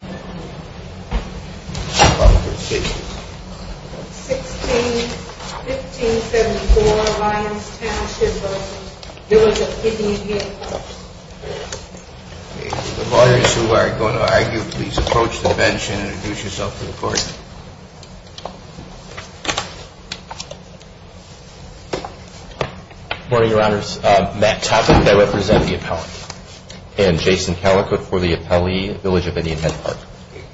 Good morning, your honors. Matt Toppin, and I represent the appellate, and Jason Callicutt for the appellee, Village of Indian Head Park.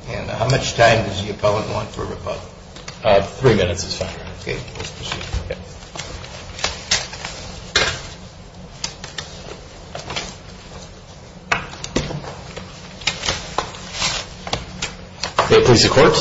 How much time does the appellant want for rebuttal? Three minutes is fine. Okay, let's proceed. May it please the court,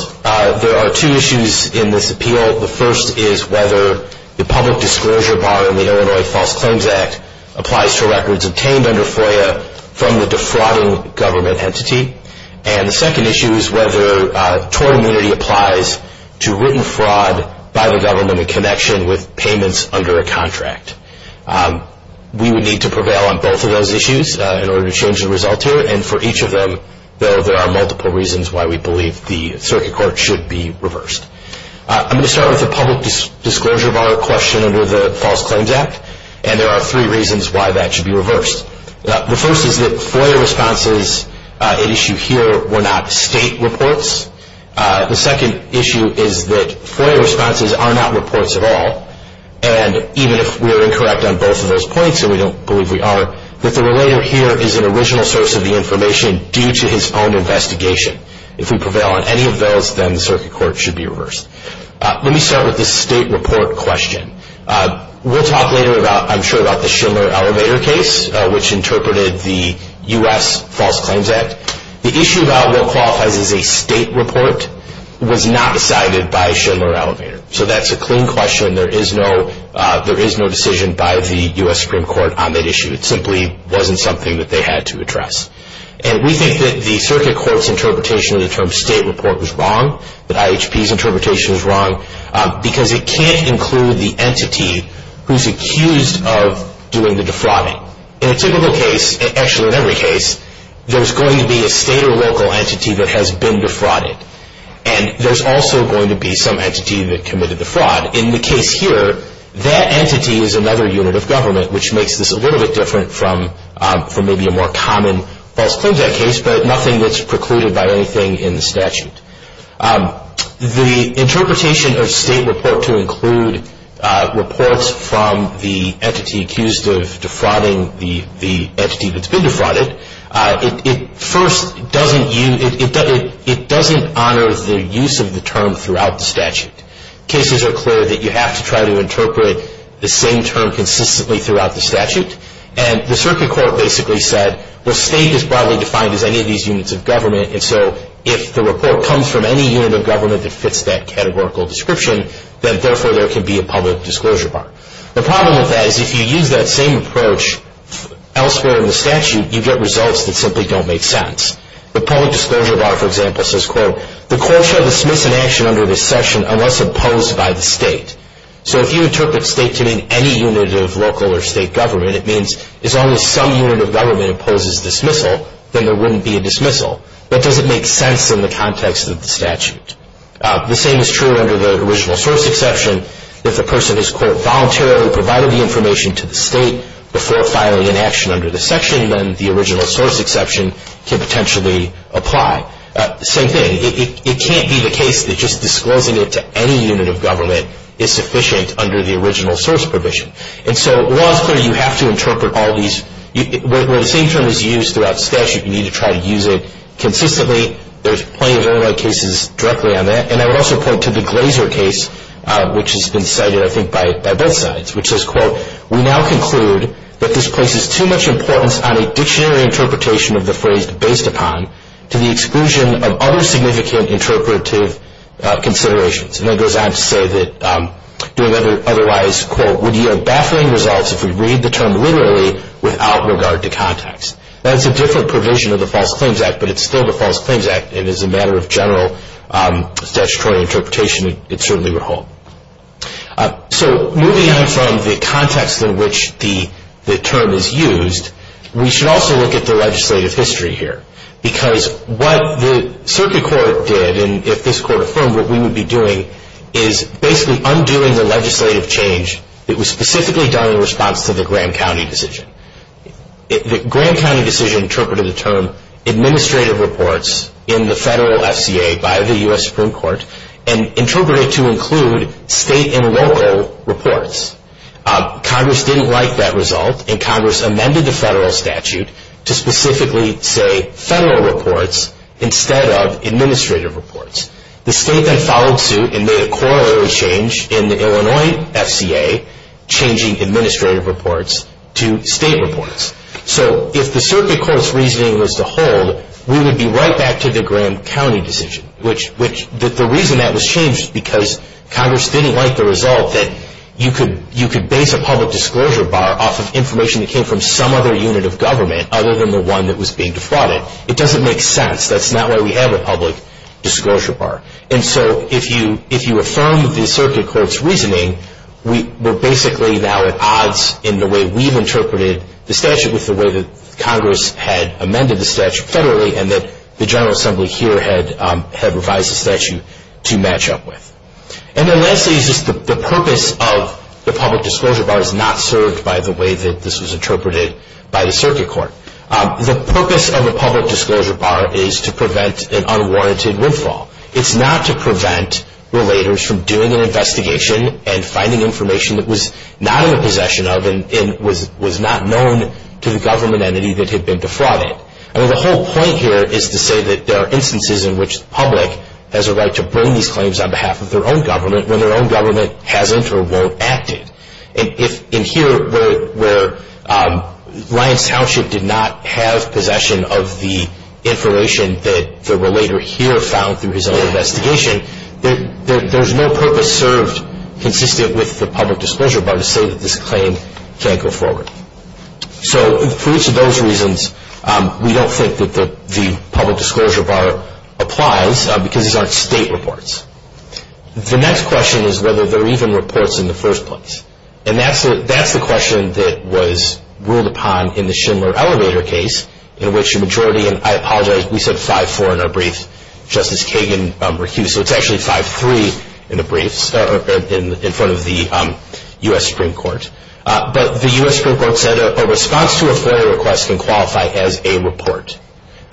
there are two issues in this appeal. The first is whether the public disclosure bar in the Illinois False Claims Act applies to records obtained under FOIA from the defrauding government entity. And the second issue is whether tort immunity applies to written fraud by the government in connection with payments under a contract. We would need to prevail on both of those issues in order to change the result here, and for each of them, though, there are multiple reasons why we believe the circuit court should be reversed. I'm going to start with the public disclosure bar question under the False Claims Act, and there are three reasons why that should be reversed. The first is that FOIA responses at issue here were not state reports. The second issue is that FOIA responses are not reports at all, and even if we are incorrect on both of those points, and we don't believe we are, that the relator here is an original source of the information due to his own investigation. If we prevail on any of those, then the circuit court should be reversed. Let me start with the state report question. We'll talk later, I'm sure, about the Schindler Elevator case, which interpreted the U.S. False Claims Act. The issue about what qualifies as a state report was not decided by Schindler Elevator, so that's a clean question. There is no decision by the U.S. Supreme Court on that issue. It simply wasn't something that they had to address. We think that the circuit court's interpretation of the term state report was wrong, that IHP's interpretation was wrong, because it can't include the entity who's accused of doing the defrauding. In a typical case, and actually in every case, there's going to be a state or local entity that has been defrauded, and there's also going to be some entity that committed the fraud. In the case here, that entity is another unit of government, which makes this a little bit different from maybe a more common False Claims Act case, but nothing that's precluded by anything in the statute. The interpretation of state report to include reports from the entity accused of defrauding the entity that's been defrauded, it doesn't honor the use of the term throughout the statute. Cases are clear that you have to try to interpret the same term consistently throughout the statute, and the circuit court basically said, well, state is broadly defined as any of these units of government, and so if the report comes from any unit of government that fits that categorical description, then therefore there can be a public disclosure bar. The problem with that is if you use that same approach elsewhere in the statute, you get results that simply don't make sense. The public disclosure bar, for example, says, quote, the court shall dismiss an action under this section unless opposed by the state. So if you interpret state to mean any unit of local or state government, it means as long as some unit of government opposes dismissal, then there wouldn't be a dismissal. That doesn't make sense in the context of the statute. The same is true under the original source exception. If the person has, quote, voluntarily provided the information to the state before filing an action under the section, then the original source exception can potentially apply. Same thing. It can't be the case that just disclosing it to any unit of government is sufficient under the original source provision. And so law is clear. You have to interpret all these. Where the same term is used throughout statute, you need to try to use it consistently. There's plenty of early cases directly on that. And I would also point to the Glazer case, which has been cited, I think, by both sides, which says, quote, we now conclude that this places too much importance on a dictionary interpretation of the phrase to the exclusion of other significant interpretive considerations. And then it goes on to say that doing otherwise, quote, would yield baffling results if we read the term literally without regard to context. That's a different provision of the False Claims Act, but it's still the False Claims Act, and as a matter of general statutory interpretation, it certainly would hold. So moving on from the context in which the term is used, we should also look at the legislative history here. Because what the circuit court did, and if this court affirmed what we would be doing, is basically undoing the legislative change that was specifically done in response to the Graham County decision. The Graham County decision interpreted the term administrative reports in the federal FCA by the U.S. Supreme Court and interpreted it to include state and local reports. Congress didn't like that result, and Congress amended the federal statute to specifically say federal reports instead of administrative reports. The state then followed suit and made a corollary change in the Illinois FCA, changing administrative reports to state reports. So if the circuit court's reasoning was to hold, we would be right back to the Graham County decision. The reason that was changed was because Congress didn't like the result that you could base a public disclosure bar off of information that came from some other unit of government other than the one that was being defrauded. It doesn't make sense. That's not why we have a public disclosure bar. And so if you affirm the circuit court's reasoning, we're basically now at odds in the way we've interpreted the statute with the way that Congress had amended the statute federally and that the General Assembly here had revised the statute to match up with. And then lastly, the purpose of the public disclosure bar is not served by the way that this was interpreted by the circuit court. The purpose of the public disclosure bar is to prevent an unwarranted windfall. It's not to prevent relators from doing an investigation and finding information that was not in the possession of and was not known to the government entity that had been defrauded. I mean, the whole point here is to say that there are instances in which the public has a right to bring these claims on behalf of their own government when their own government hasn't or won't act it. And here, where Lyons Township did not have possession of the information that the relator here found through his own investigation, there's no purpose served consistent with the public disclosure bar to say that this claim can't go forward. So for each of those reasons, we don't think that the public disclosure bar applies because these aren't state reports. The next question is whether they're even reports in the first place. And that's the question that was ruled upon in the Schindler Elevator case in which a majority, and I apologize, we said 5-4 in our brief, Justice Kagan refused. So it's actually 5-3 in the briefs in front of the U.S. Supreme Court. But the U.S. Supreme Court said a response to a FOIA request can qualify as a report.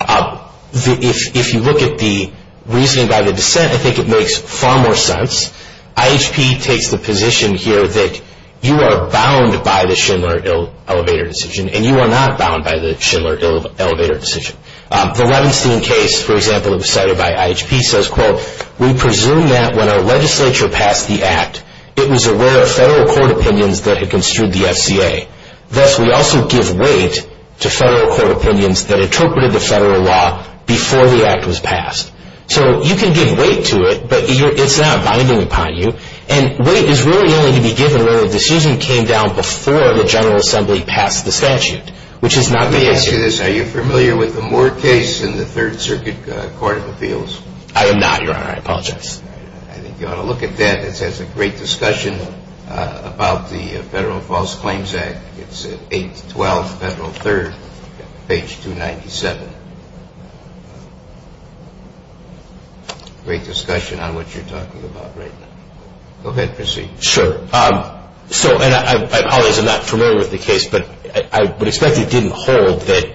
If you look at the reasoning by the dissent, I think it makes far more sense. IHP takes the position here that you are bound by the Schindler Elevator decision, and you are not bound by the Schindler Elevator decision. The Levenstein case, for example, decided by IHP, says, we presume that when a legislature passed the act, it was aware of federal court opinions that had construed the FCA. Thus, we also give weight to federal court opinions that interpreted the federal law before the act was passed. So you can give weight to it, but it's not binding upon you. And weight is really only to be given when a decision came down before the General Assembly passed the statute, which is not the case here. Are you familiar with the Moore case in the Third Circuit Court of Appeals? I am not, Your Honor. I apologize. I think you ought to look at that. It has a great discussion about the Federal False Claims Act. It's at 812 Federal 3rd, page 297. Great discussion on what you're talking about right now. Go ahead. Proceed. Sure. So, and I apologize. I'm not familiar with the case, but I would expect it didn't hold that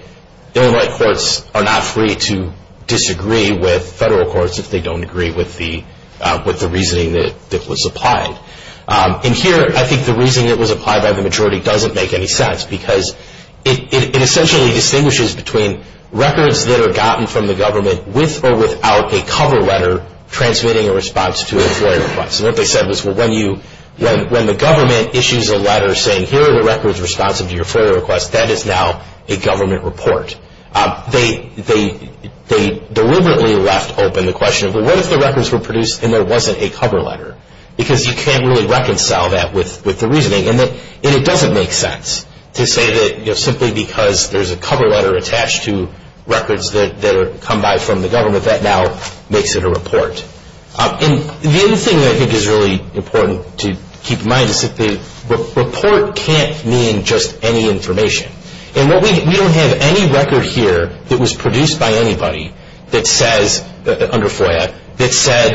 Illinois courts are not free to disagree with federal courts if they don't agree with the reasoning that was applied. And here, I think the reasoning that was applied by the majority doesn't make any sense because it essentially distinguishes between records that are gotten from the government with or without a cover letter transmitting a response to an employee request. And what they said was, well, when the government issues a letter saying, here are the records responsive to your FOIA request, that is now a government report. They deliberately left open the question of, well, what if the records were produced and there wasn't a cover letter? Because you can't really reconcile that with the reasoning. And it doesn't make sense to say that simply because there's a cover letter attached to records The other thing that I think is really important to keep in mind is that the report can't mean just any information. And we don't have any record here that was produced by anybody that says, under FOIA, that said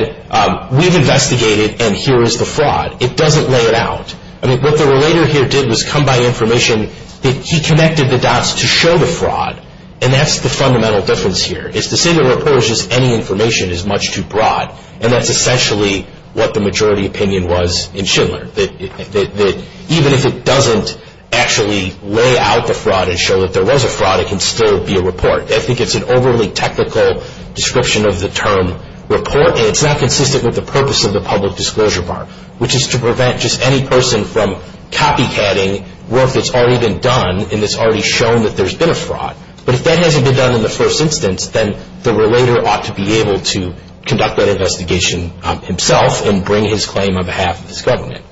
we've investigated and here is the fraud. It doesn't lay it out. I mean, what the relator here did was come by information that he connected the dots to show the fraud, and that's the fundamental difference here. It's to say the report is just any information is much too broad, and that's essentially what the majority opinion was in Schindler, that even if it doesn't actually lay out the fraud and show that there was a fraud, it can still be a report. I think it's an overly technical description of the term report, and it's not consistent with the purpose of the public disclosure bar, which is to prevent just any person from copycatting work that's already been done and that's already shown that there's been a fraud. But if that hasn't been done in the first instance, then the relator ought to be able to conduct that investigation himself and bring his claim on behalf of his government.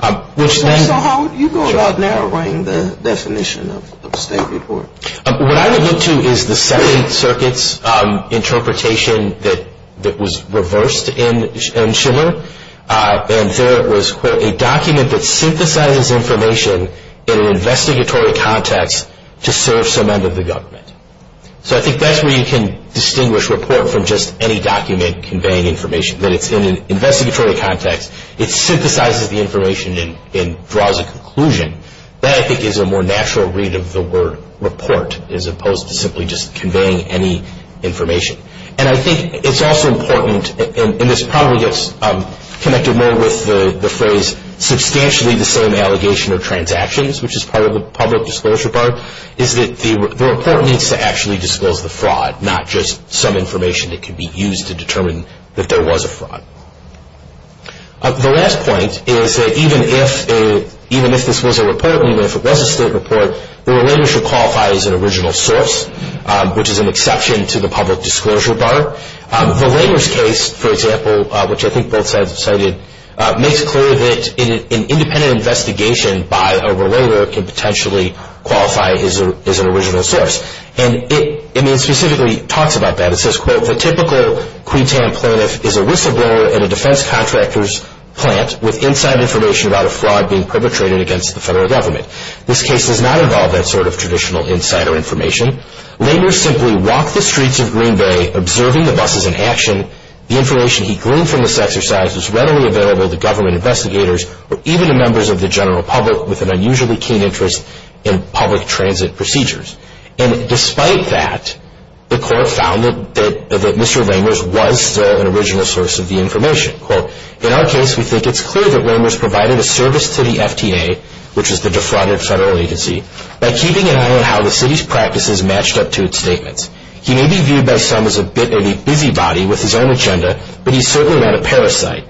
So how would you go about narrowing the definition of a state report? What I would look to is the second circuit's interpretation that was reversed in Schindler, and there was, quote, a document that synthesizes information in an investigatory context to serve some end of the government. So I think that's where you can distinguish report from just any document conveying information, that it's in an investigatory context. It synthesizes the information and draws a conclusion. That, I think, is a more natural read of the word report as opposed to simply just conveying any information. And I think it's also important, and this probably gets connected more with the phrase substantially the same allegation of transactions, which is part of the public disclosure bar, is that the report needs to actually disclose the fraud, not just some information that could be used to determine that there was a fraud. The last point is that even if this was a report, even if it was a state report, the relator should qualify as an original source, which is an exception to the public disclosure bar. The relator's case, for example, which I think both sides have cited, makes it clear that an independent investigation by a relator can potentially qualify as an original source. And it specifically talks about that. It says, quote, the typical Quintanim plaintiff is a whistleblower at a defense contractor's plant with inside information about a fraud being perpetrated against the federal government. This case does not involve that sort of traditional insider information. Lamers simply walked the streets of Green Bay observing the buses in action. The information he gleaned from this exercise was readily available to government investigators or even to members of the general public with an unusually keen interest in public transit procedures. And despite that, the court found that Mr. Lamers was an original source of the information. Quote, in our case, we think it's clear that Lamers provided a service to the FTA, which is the defrauded federal agency, by keeping an eye on how the city's practices matched up to its statements. He may be viewed by some as a bit of a busybody with his own agenda, but he's certainly not a parasite.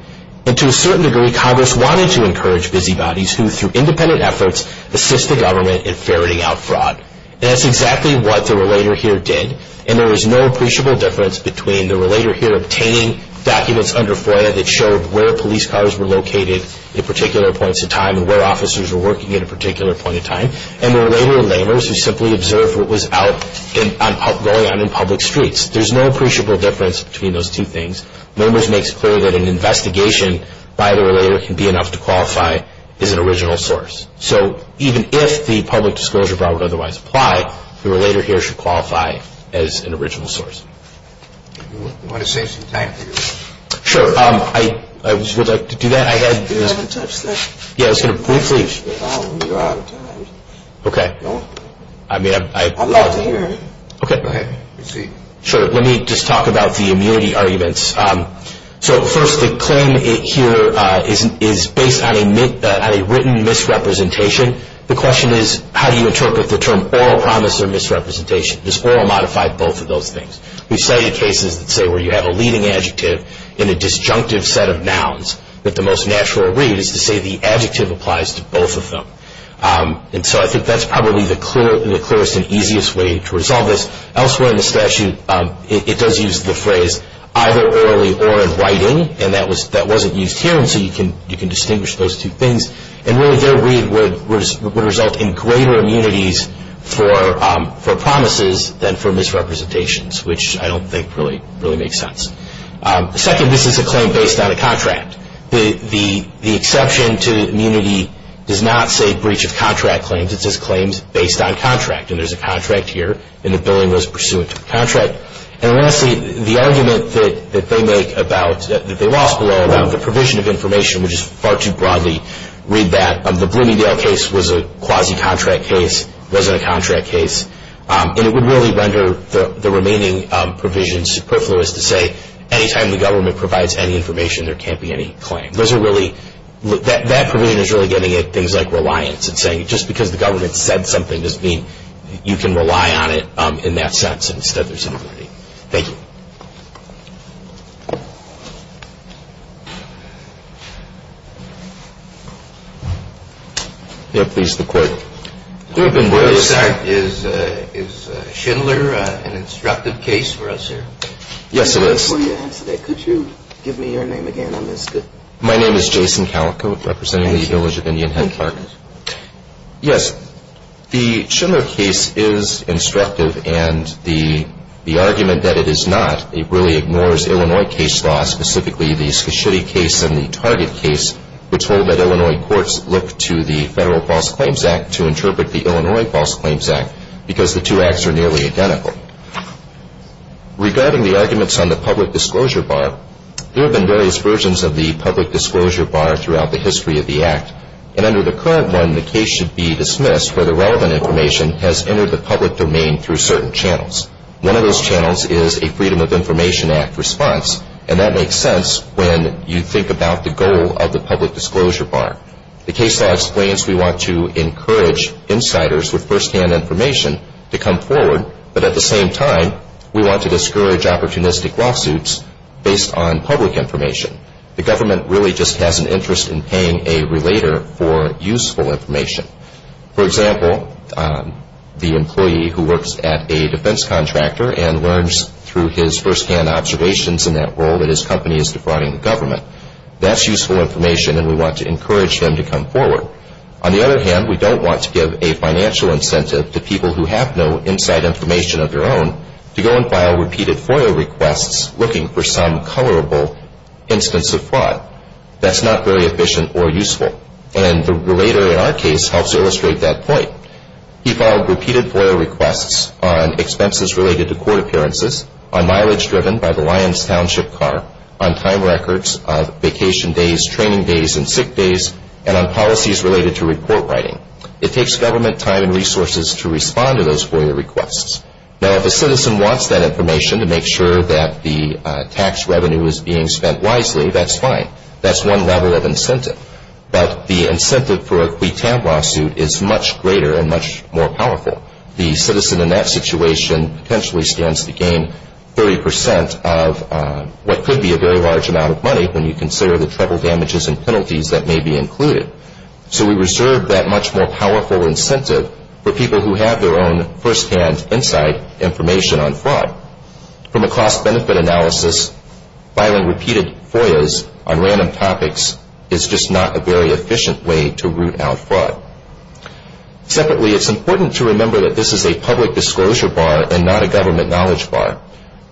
And to a certain degree, Congress wanted to encourage busybodies who, through independent efforts, assist the government in ferreting out fraud. And that's exactly what the relator here did. And there is no appreciable difference between the relator here obtaining documents under FOIA that showed where police cars were located at particular points in time and where officers were working at a particular point in time, and the relator, Lamers, who simply observed what was going on in public streets. There's no appreciable difference between those two things. Lamers makes clear that an investigation by the relator can be enough to qualify as an original source. So even if the public disclosure brought would otherwise apply, the relator here should qualify as an original source. We want to save some time for you. Sure. I would like to do that. You haven't touched that. Yeah, I was going to briefly. You're out of time. Okay. I'm not there. Okay. Go ahead. Proceed. Sure. Let me just talk about the immunity arguments. So first, the claim here is based on a written misrepresentation. The question is, how do you interpret the term oral promise or misrepresentation? Does oral modify both of those things? We've studied cases that say where you have a leading adjective in a disjunctive set of nouns that the most natural read is to say the adjective applies to both of them. And so I think that's probably the clearest and easiest way to resolve this. Elsewhere in the statute, it does use the phrase either orally or in writing, and that wasn't used here, and so you can distinguish those two things. And really their read would result in greater immunities for promises than for misrepresentations, which I don't think really makes sense. Second, this is a claim based on a contract. The exception to immunity does not say breach of contract claims. It says claims based on contract, and there's a contract here, and the billing was pursuant to the contract. And lastly, the argument that they make about, that they lost below about the provision of information, which is far too broadly read that the Bloomingdale case was a quasi-contract case, wasn't a contract case, and it would really render the remaining provisions superfluous to say, anytime the government provides any information, there can't be any claim. That provision is really giving it things like reliance and saying, just because the government said something doesn't mean you can rely on it in that sense. Instead, there's immunity. Thank you. Yes, please, the court. Is Schindler an instructive case for us here? Yes, it is. Could you give me your name again on this? My name is Jason Calico, representing the Village of Indian Head Park. Yes. The Schindler case is instructive, and the argument that it is not a breach of contract It really ignores Illinois case law, specifically the Scorsese case and the Target case, which hold that Illinois courts look to the Federal False Claims Act to interpret the Illinois False Claims Act, because the two acts are nearly identical. Regarding the arguments on the public disclosure bar, there have been various versions of the public disclosure bar throughout the history of the act, and under the current one, the case should be dismissed where the relevant information has entered the public domain through certain channels. One of those channels is a Freedom of Information Act response, and that makes sense when you think about the goal of the public disclosure bar. The case law explains we want to encourage insiders with firsthand information to come forward, but at the same time, we want to discourage opportunistic lawsuits based on public information. The government really just has an interest in paying a relator for useful information. For example, the employee who works at a defense contractor and learns through his firsthand observations in that role that his company is defrauding the government. That's useful information, and we want to encourage him to come forward. On the other hand, we don't want to give a financial incentive to people who have no inside information of their own to go and file repeated FOIA requests looking for some colorable instance of fraud. That's not very efficient or useful. And the relator in our case helps illustrate that point. He filed repeated FOIA requests on expenses related to court appearances, on mileage driven by the Lyons Township car, on time records, on vacation days, training days, and sick days, and on policies related to report writing. It takes government time and resources to respond to those FOIA requests. Now, if a citizen wants that information to make sure that the tax revenue is being spent wisely, that's fine. That's one level of incentive. But the incentive for a quitan lawsuit is much greater and much more powerful. The citizen in that situation potentially stands to gain 30 percent of what could be a very large amount of money when you consider the trouble, damages, and penalties that may be included. So we reserve that much more powerful incentive for people who have their own firsthand inside information on fraud. From a cost benefit analysis, filing repeated FOIAs on random topics is just not a very efficient way to root out fraud. Separately, it's important to remember that this is a public disclosure bar and not a government knowledge bar.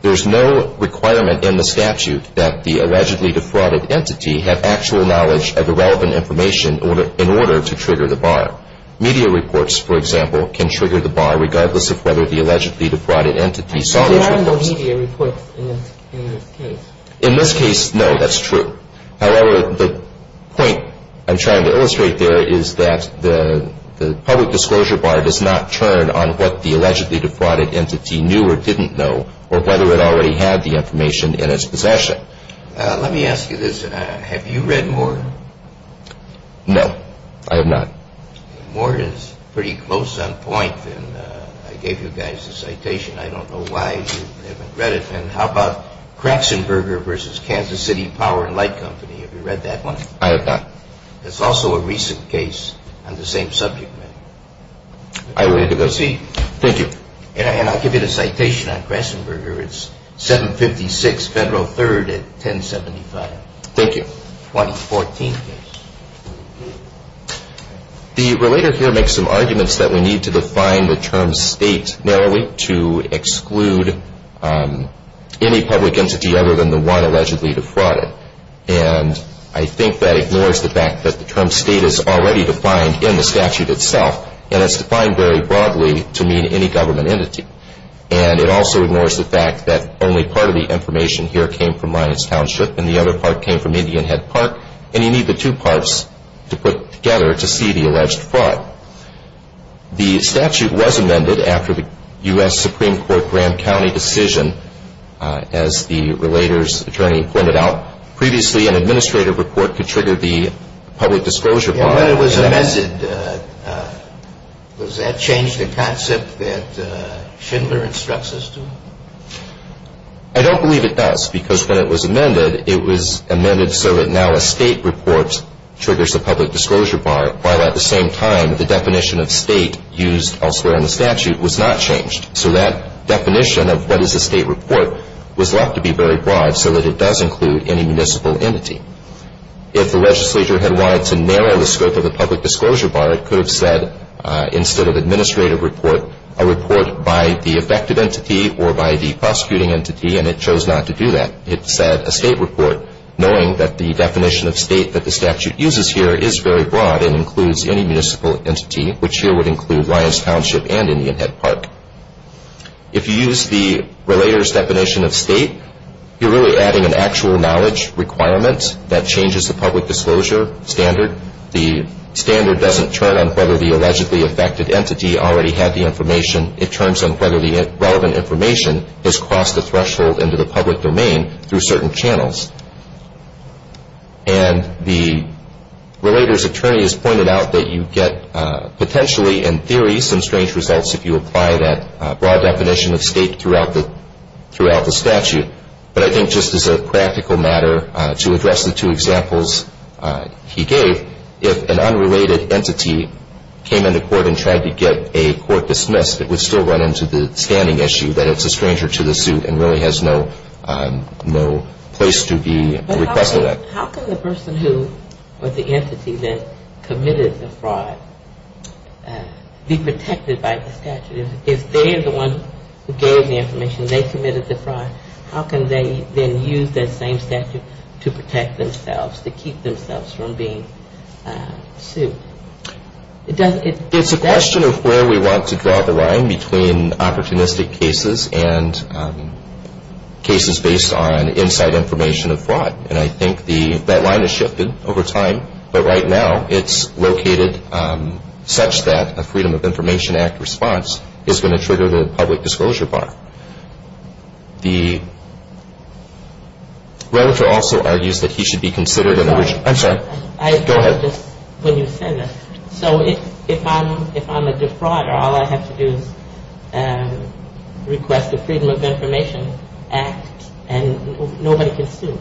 There's no requirement in the statute that the allegedly defrauded entity have actual knowledge of the relevant information in order to trigger the bar. Media reports, for example, can trigger the bar regardless of whether the allegedly defrauded entity saw those reports. But there are no media reports in this case. In this case, no, that's true. However, the point I'm trying to illustrate there is that the public disclosure bar does not turn on what the allegedly defrauded entity knew or didn't know or whether it already had the information in its possession. Let me ask you this. Have you read more? No, I have not. More is pretty close on point, and I gave you guys a citation. I don't know why you haven't read it. And how about Kraxenberger versus Kansas City Power and Light Company? Have you read that one? I have not. It's also a recent case on the same subject matter. I will read it again. Thank you. And I'll give you the citation on Kraxenberger. It's 756 Federal 3rd at 1075. Thank you. The relator here makes some arguments that we need to define the term state narrowly to exclude any public entity other than the one allegedly defrauded. And I think that ignores the fact that the term state is already defined in the statute itself, and it's defined very broadly to mean any government entity. And it also ignores the fact that only part of the information here came from Linus Township and the other part came from Indian Head Park, and you need the two parts to put together to see the alleged fraud. The statute was amended after the U.S. Supreme Court Grand County decision. As the relator's attorney pointed out, previously an administrative report could trigger the public disclosure process. When it was amended, does that change the concept that Schindler instructs us to? I don't believe it does because when it was amended, it was amended so that now a state report triggers the public disclosure bar, while at the same time the definition of state used elsewhere in the statute was not changed. So that definition of what is a state report was left to be very broad so that it does include any municipal entity. If the legislature had wanted to narrow the scope of the public disclosure bar, it could have said instead of administrative report, a report by the affected entity or by the prosecuting entity, and it chose not to do that. It said a state report, knowing that the definition of state that the statute uses here is very broad and includes any municipal entity, which here would include Linus Township and Indian Head Park. If you use the relator's definition of state, you're really adding an actual knowledge requirement that changes the public disclosure standard. The standard doesn't turn on whether the allegedly affected entity already had the information. It turns on whether the relevant information has crossed the threshold into the public domain through certain channels. And the relator's attorney has pointed out that you get potentially in theory some strange results if you apply that broad definition of state throughout the statute. But I think just as a practical matter, to address the two examples he gave, if an unrelated entity came into court and tried to get a court dismissed, it would still run into the standing issue that it's a stranger to the suit and really has no place to be requested. But how can the person who or the entity that committed the fraud be protected by the statute? If they're the one who gave the information, they committed the fraud, how can they then use that same statute to protect themselves, to keep themselves from being sued? It's a question of where we want to draw the line between opportunistic cases and cases based on inside information of fraud. And I think that line has shifted over time. But right now it's located such that a Freedom of Information Act response is going to trigger the public disclosure bar. The relator also argues that he should be considered an original... I'm sorry. Go ahead. When you said that. So if I'm a defrauder, all I have to do is request the Freedom of Information Act and nobody can sue?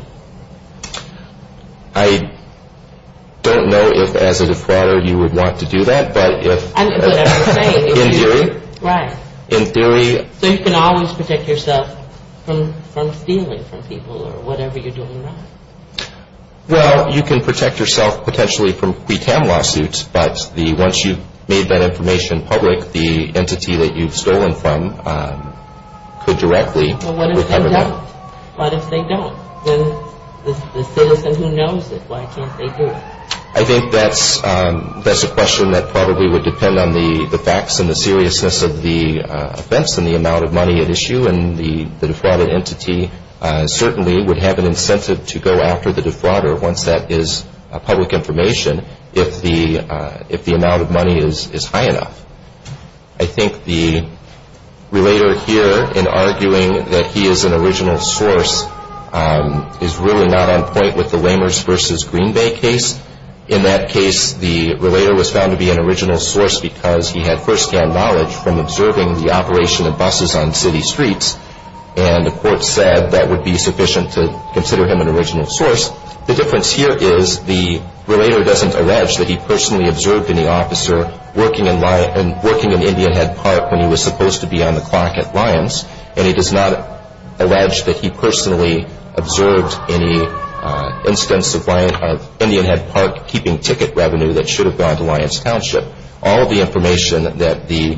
I don't know if as a defrauder you would want to do that. But if... Whatever you're saying. In theory. Right. In theory. So you can always protect yourself from stealing from people or whatever you're doing wrong. Well, you can protect yourself potentially from pre-tem lawsuits, but once you've made that information public, the entity that you've stolen from could directly recover that. Well, what if they don't? What if they don't? Then the citizen who knows it, why can't they do it? I think that's a question that probably would depend on the facts and the seriousness of the offense and the amount of money at issue. And the defrauded entity certainly would have an incentive to go after the defrauder once that is public information if the amount of money is high enough. I think the relator here, in arguing that he is an original source, is really not on point with the Lehmers v. Green Bay case. In that case, the relator was found to be an original source because he had first-hand knowledge from observing the operation of buses on city streets, and the court said that would be sufficient to consider him an original source. The difference here is the relator doesn't allege that he personally observed any officer working in Indian Head Park when he was supposed to be on the clock at Lyons, and he does not allege that he personally observed any instance of Indian Head Park keeping ticket revenue that should have gone to Lyons Township. All of the information that the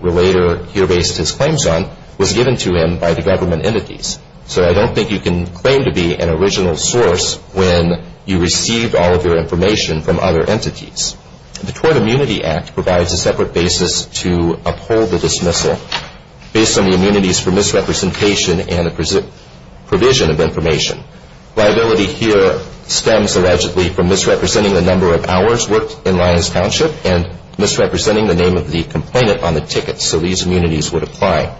relator here based his claims on was given to him by the government entities. So I don't think you can claim to be an original source when you received all of your information from other entities. The Tort Immunity Act provides a separate basis to uphold the dismissal based on the immunities for misrepresentation and the provision of information. Liability here stems allegedly from misrepresenting the number of hours worked in Lyons Township and misrepresenting the name of the complainant on the ticket so these immunities would apply.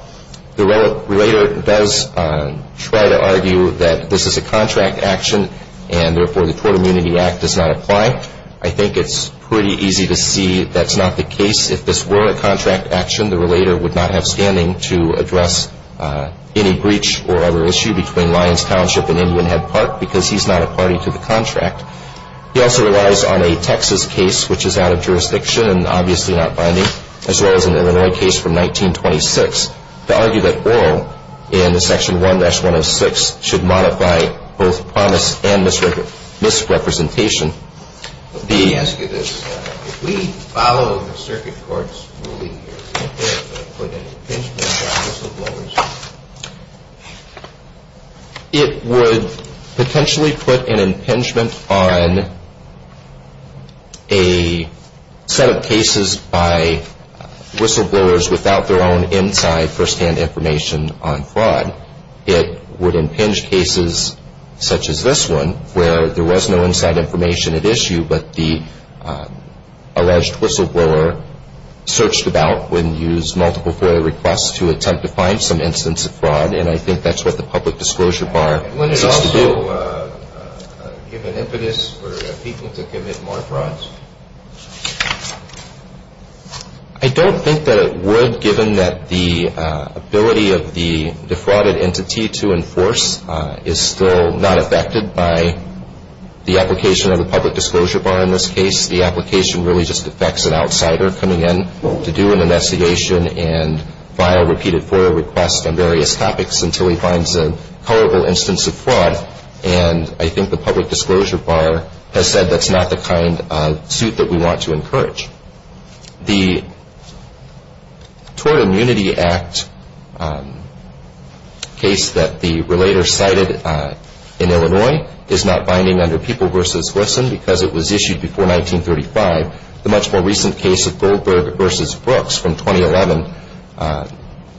The relator does try to argue that this is a contract action and therefore the Tort Immunity Act does not apply. I think it's pretty easy to see that's not the case. If this were a contract action, the relator would not have standing to address any breach or other issue between Lyons Township and Indian Head Park because he's not a party to the contract. He also relies on a Texas case which is out of jurisdiction and obviously not binding as well as an Illinois case from 1926 to argue that oral in Section 1-106 should modify both promise and misrepresentation. Let me ask you this. If we follow the circuit court's ruling here, would it put an impingement on whistleblowers? It would potentially put an impingement on a set of cases by whistleblowers without their own inside first-hand information on fraud. It would impinge cases such as this one where there was no inside information at issue but the alleged whistleblower searched about and used multiple FOIA requests to attempt to find some instance of fraud and I think that's what the public disclosure bar seems to do. Would it also give an impetus for people to commit more frauds? I don't think that it would given that the ability of the defrauded entity to enforce is still not affected by the application of the public disclosure bar in this case. The application really just affects an outsider coming in to do an investigation and file repeated FOIA requests on various topics until he finds a culpable instance of fraud and I think the public disclosure bar has said that's not the kind of suit that we want to encourage. The Tort Immunity Act case that the relator cited in Illinois is not binding under People v. Wilson because it was issued before 1935. The much more recent case of Goldberg v. Brooks from 2011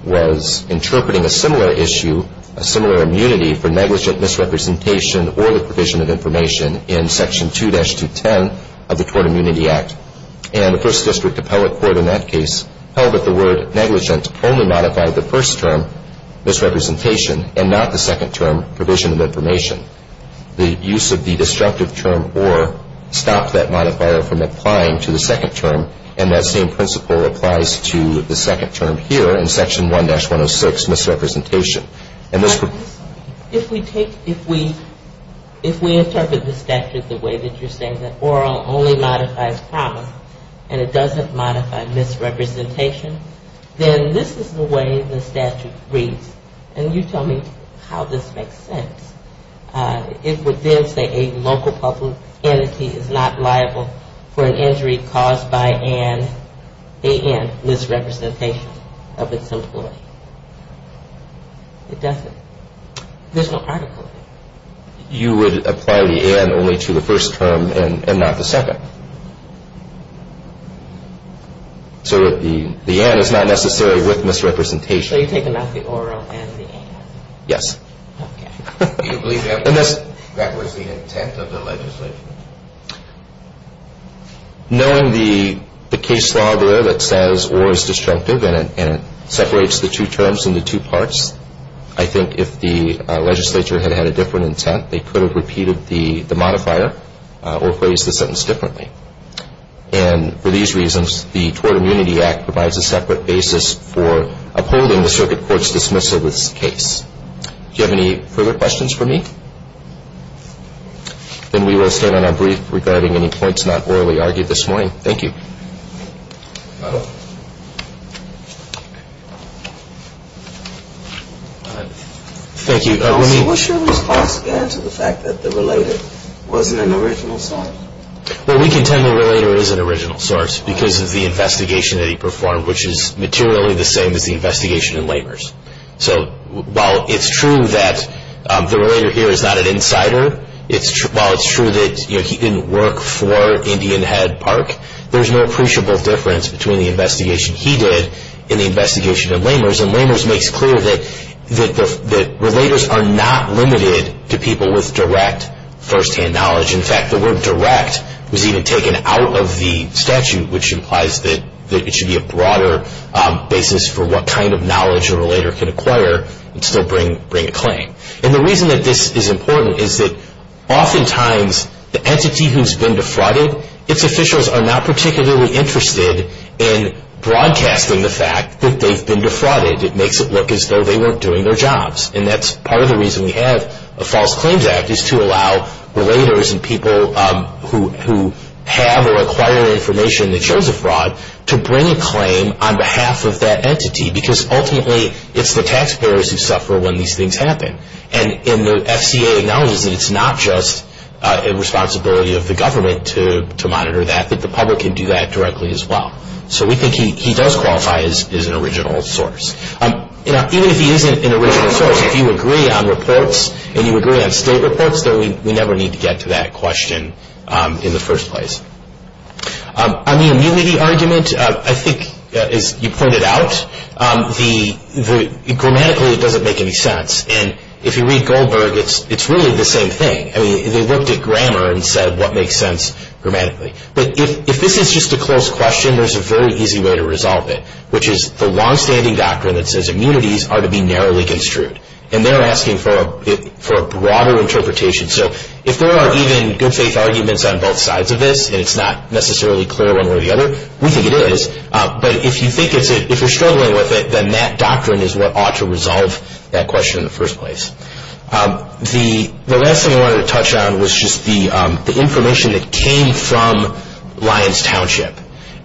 was interpreting a similar issue, a similar immunity for negligent misrepresentation or the provision of information in Section 2-210 of the Tort Immunity Act and the First District Appellate Court in that case held that the word negligent only modified the first term, misrepresentation, and not the second term, provision of information. The use of the destructive term or stopped that modifier from applying to the second term and that same principle applies to the second term here in Section 1-106, misrepresentation. If we take, if we interpret the statute the way that you're saying that oral only modifies promise and it doesn't modify misrepresentation, then this is the way the statute reads and you tell me how this makes sense. It would then say a local public entity is not liable for an injury caused by an, a, and misrepresentation of its employee. It doesn't. There's no article there. You would apply the and only to the first term and not the second. So the and is not necessary with misrepresentation. So you're taking out the oral and the and. Yes. Do you believe that was the intent of the legislature? Knowing the case law there that says oral is destructive and it separates the two terms into two parts, I think if the legislature had had a different intent, they could have repeated the modifier or phrased the sentence differently. And for these reasons, the Tort Immunity Act provides a separate basis for upholding the circuit court's dismissal of this case. Do you have any further questions for me? Then we will stand on our brief regarding any points not orally argued this morning. Thank you. Thank you. What's your response again to the fact that the relator wasn't an original source? Well, we contend the relator is an original source because of the investigation that he performed, which is materially the same as the investigation in Labors. So while it's true that the relator here is not an insider, while it's true that he didn't work for Indian Head Park, there's no appreciable difference between the investigation he did and the investigation in Labors. And Labors makes clear that relators are not limited to people with direct firsthand knowledge. In fact, the word direct was even taken out of the statute, which implies that it should be a broader basis for what kind of knowledge a relator can acquire and still bring a claim. And the reason that this is important is that oftentimes the entity who's been defrauded, its officials are not particularly interested in broadcasting the fact that they've been defrauded. It makes it look as though they weren't doing their jobs. And that's part of the reason we have a False Claims Act is to allow relators and people who have or acquire information that shows a fraud to bring a claim on behalf of that entity because ultimately it's the taxpayers who suffer when these things happen. And the FCA acknowledges that it's not just a responsibility of the government to monitor that, that the public can do that directly as well. So we think he does qualify as an original source. Even if he isn't an original source, if you agree on reports and you agree on state reports, then we never need to get to that question in the first place. On the immunity argument, I think, as you pointed out, grammatically it doesn't make any sense. And if you read Goldberg, it's really the same thing. I mean, they looked at grammar and said what makes sense grammatically. But if this is just a close question, there's a very easy way to resolve it, which is the longstanding doctrine that says immunities are to be narrowly construed. And they're asking for a broader interpretation. So if there are even good faith arguments on both sides of this and it's not necessarily clear one way or the other, we think it is. But if you're struggling with it, then that doctrine is what ought to resolve that question in the first place. The last thing I wanted to touch on was just the information that came from Lyons Township.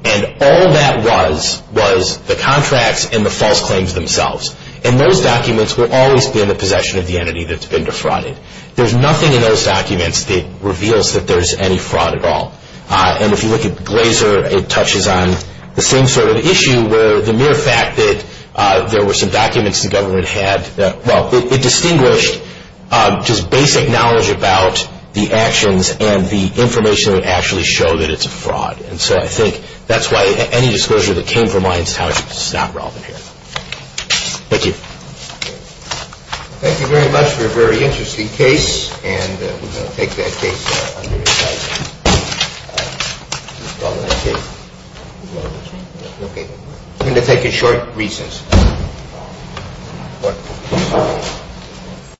And all that was was the contracts and the false claims themselves. And those documents will always be in the possession of the entity that's been defrauded. There's nothing in those documents that reveals that there's any fraud at all. And if you look at Glazer, it touches on the same sort of issue, where the mere fact that there were some documents the government had, well, it distinguished just basic knowledge about the actions and the information that would actually show that it's a fraud. And so I think that's why any disclosure that came from Lyons Township is not relevant here. Thank you. Thank you very much for a very interesting case. And we're going to take that case under its own. We're going to take it short reasons.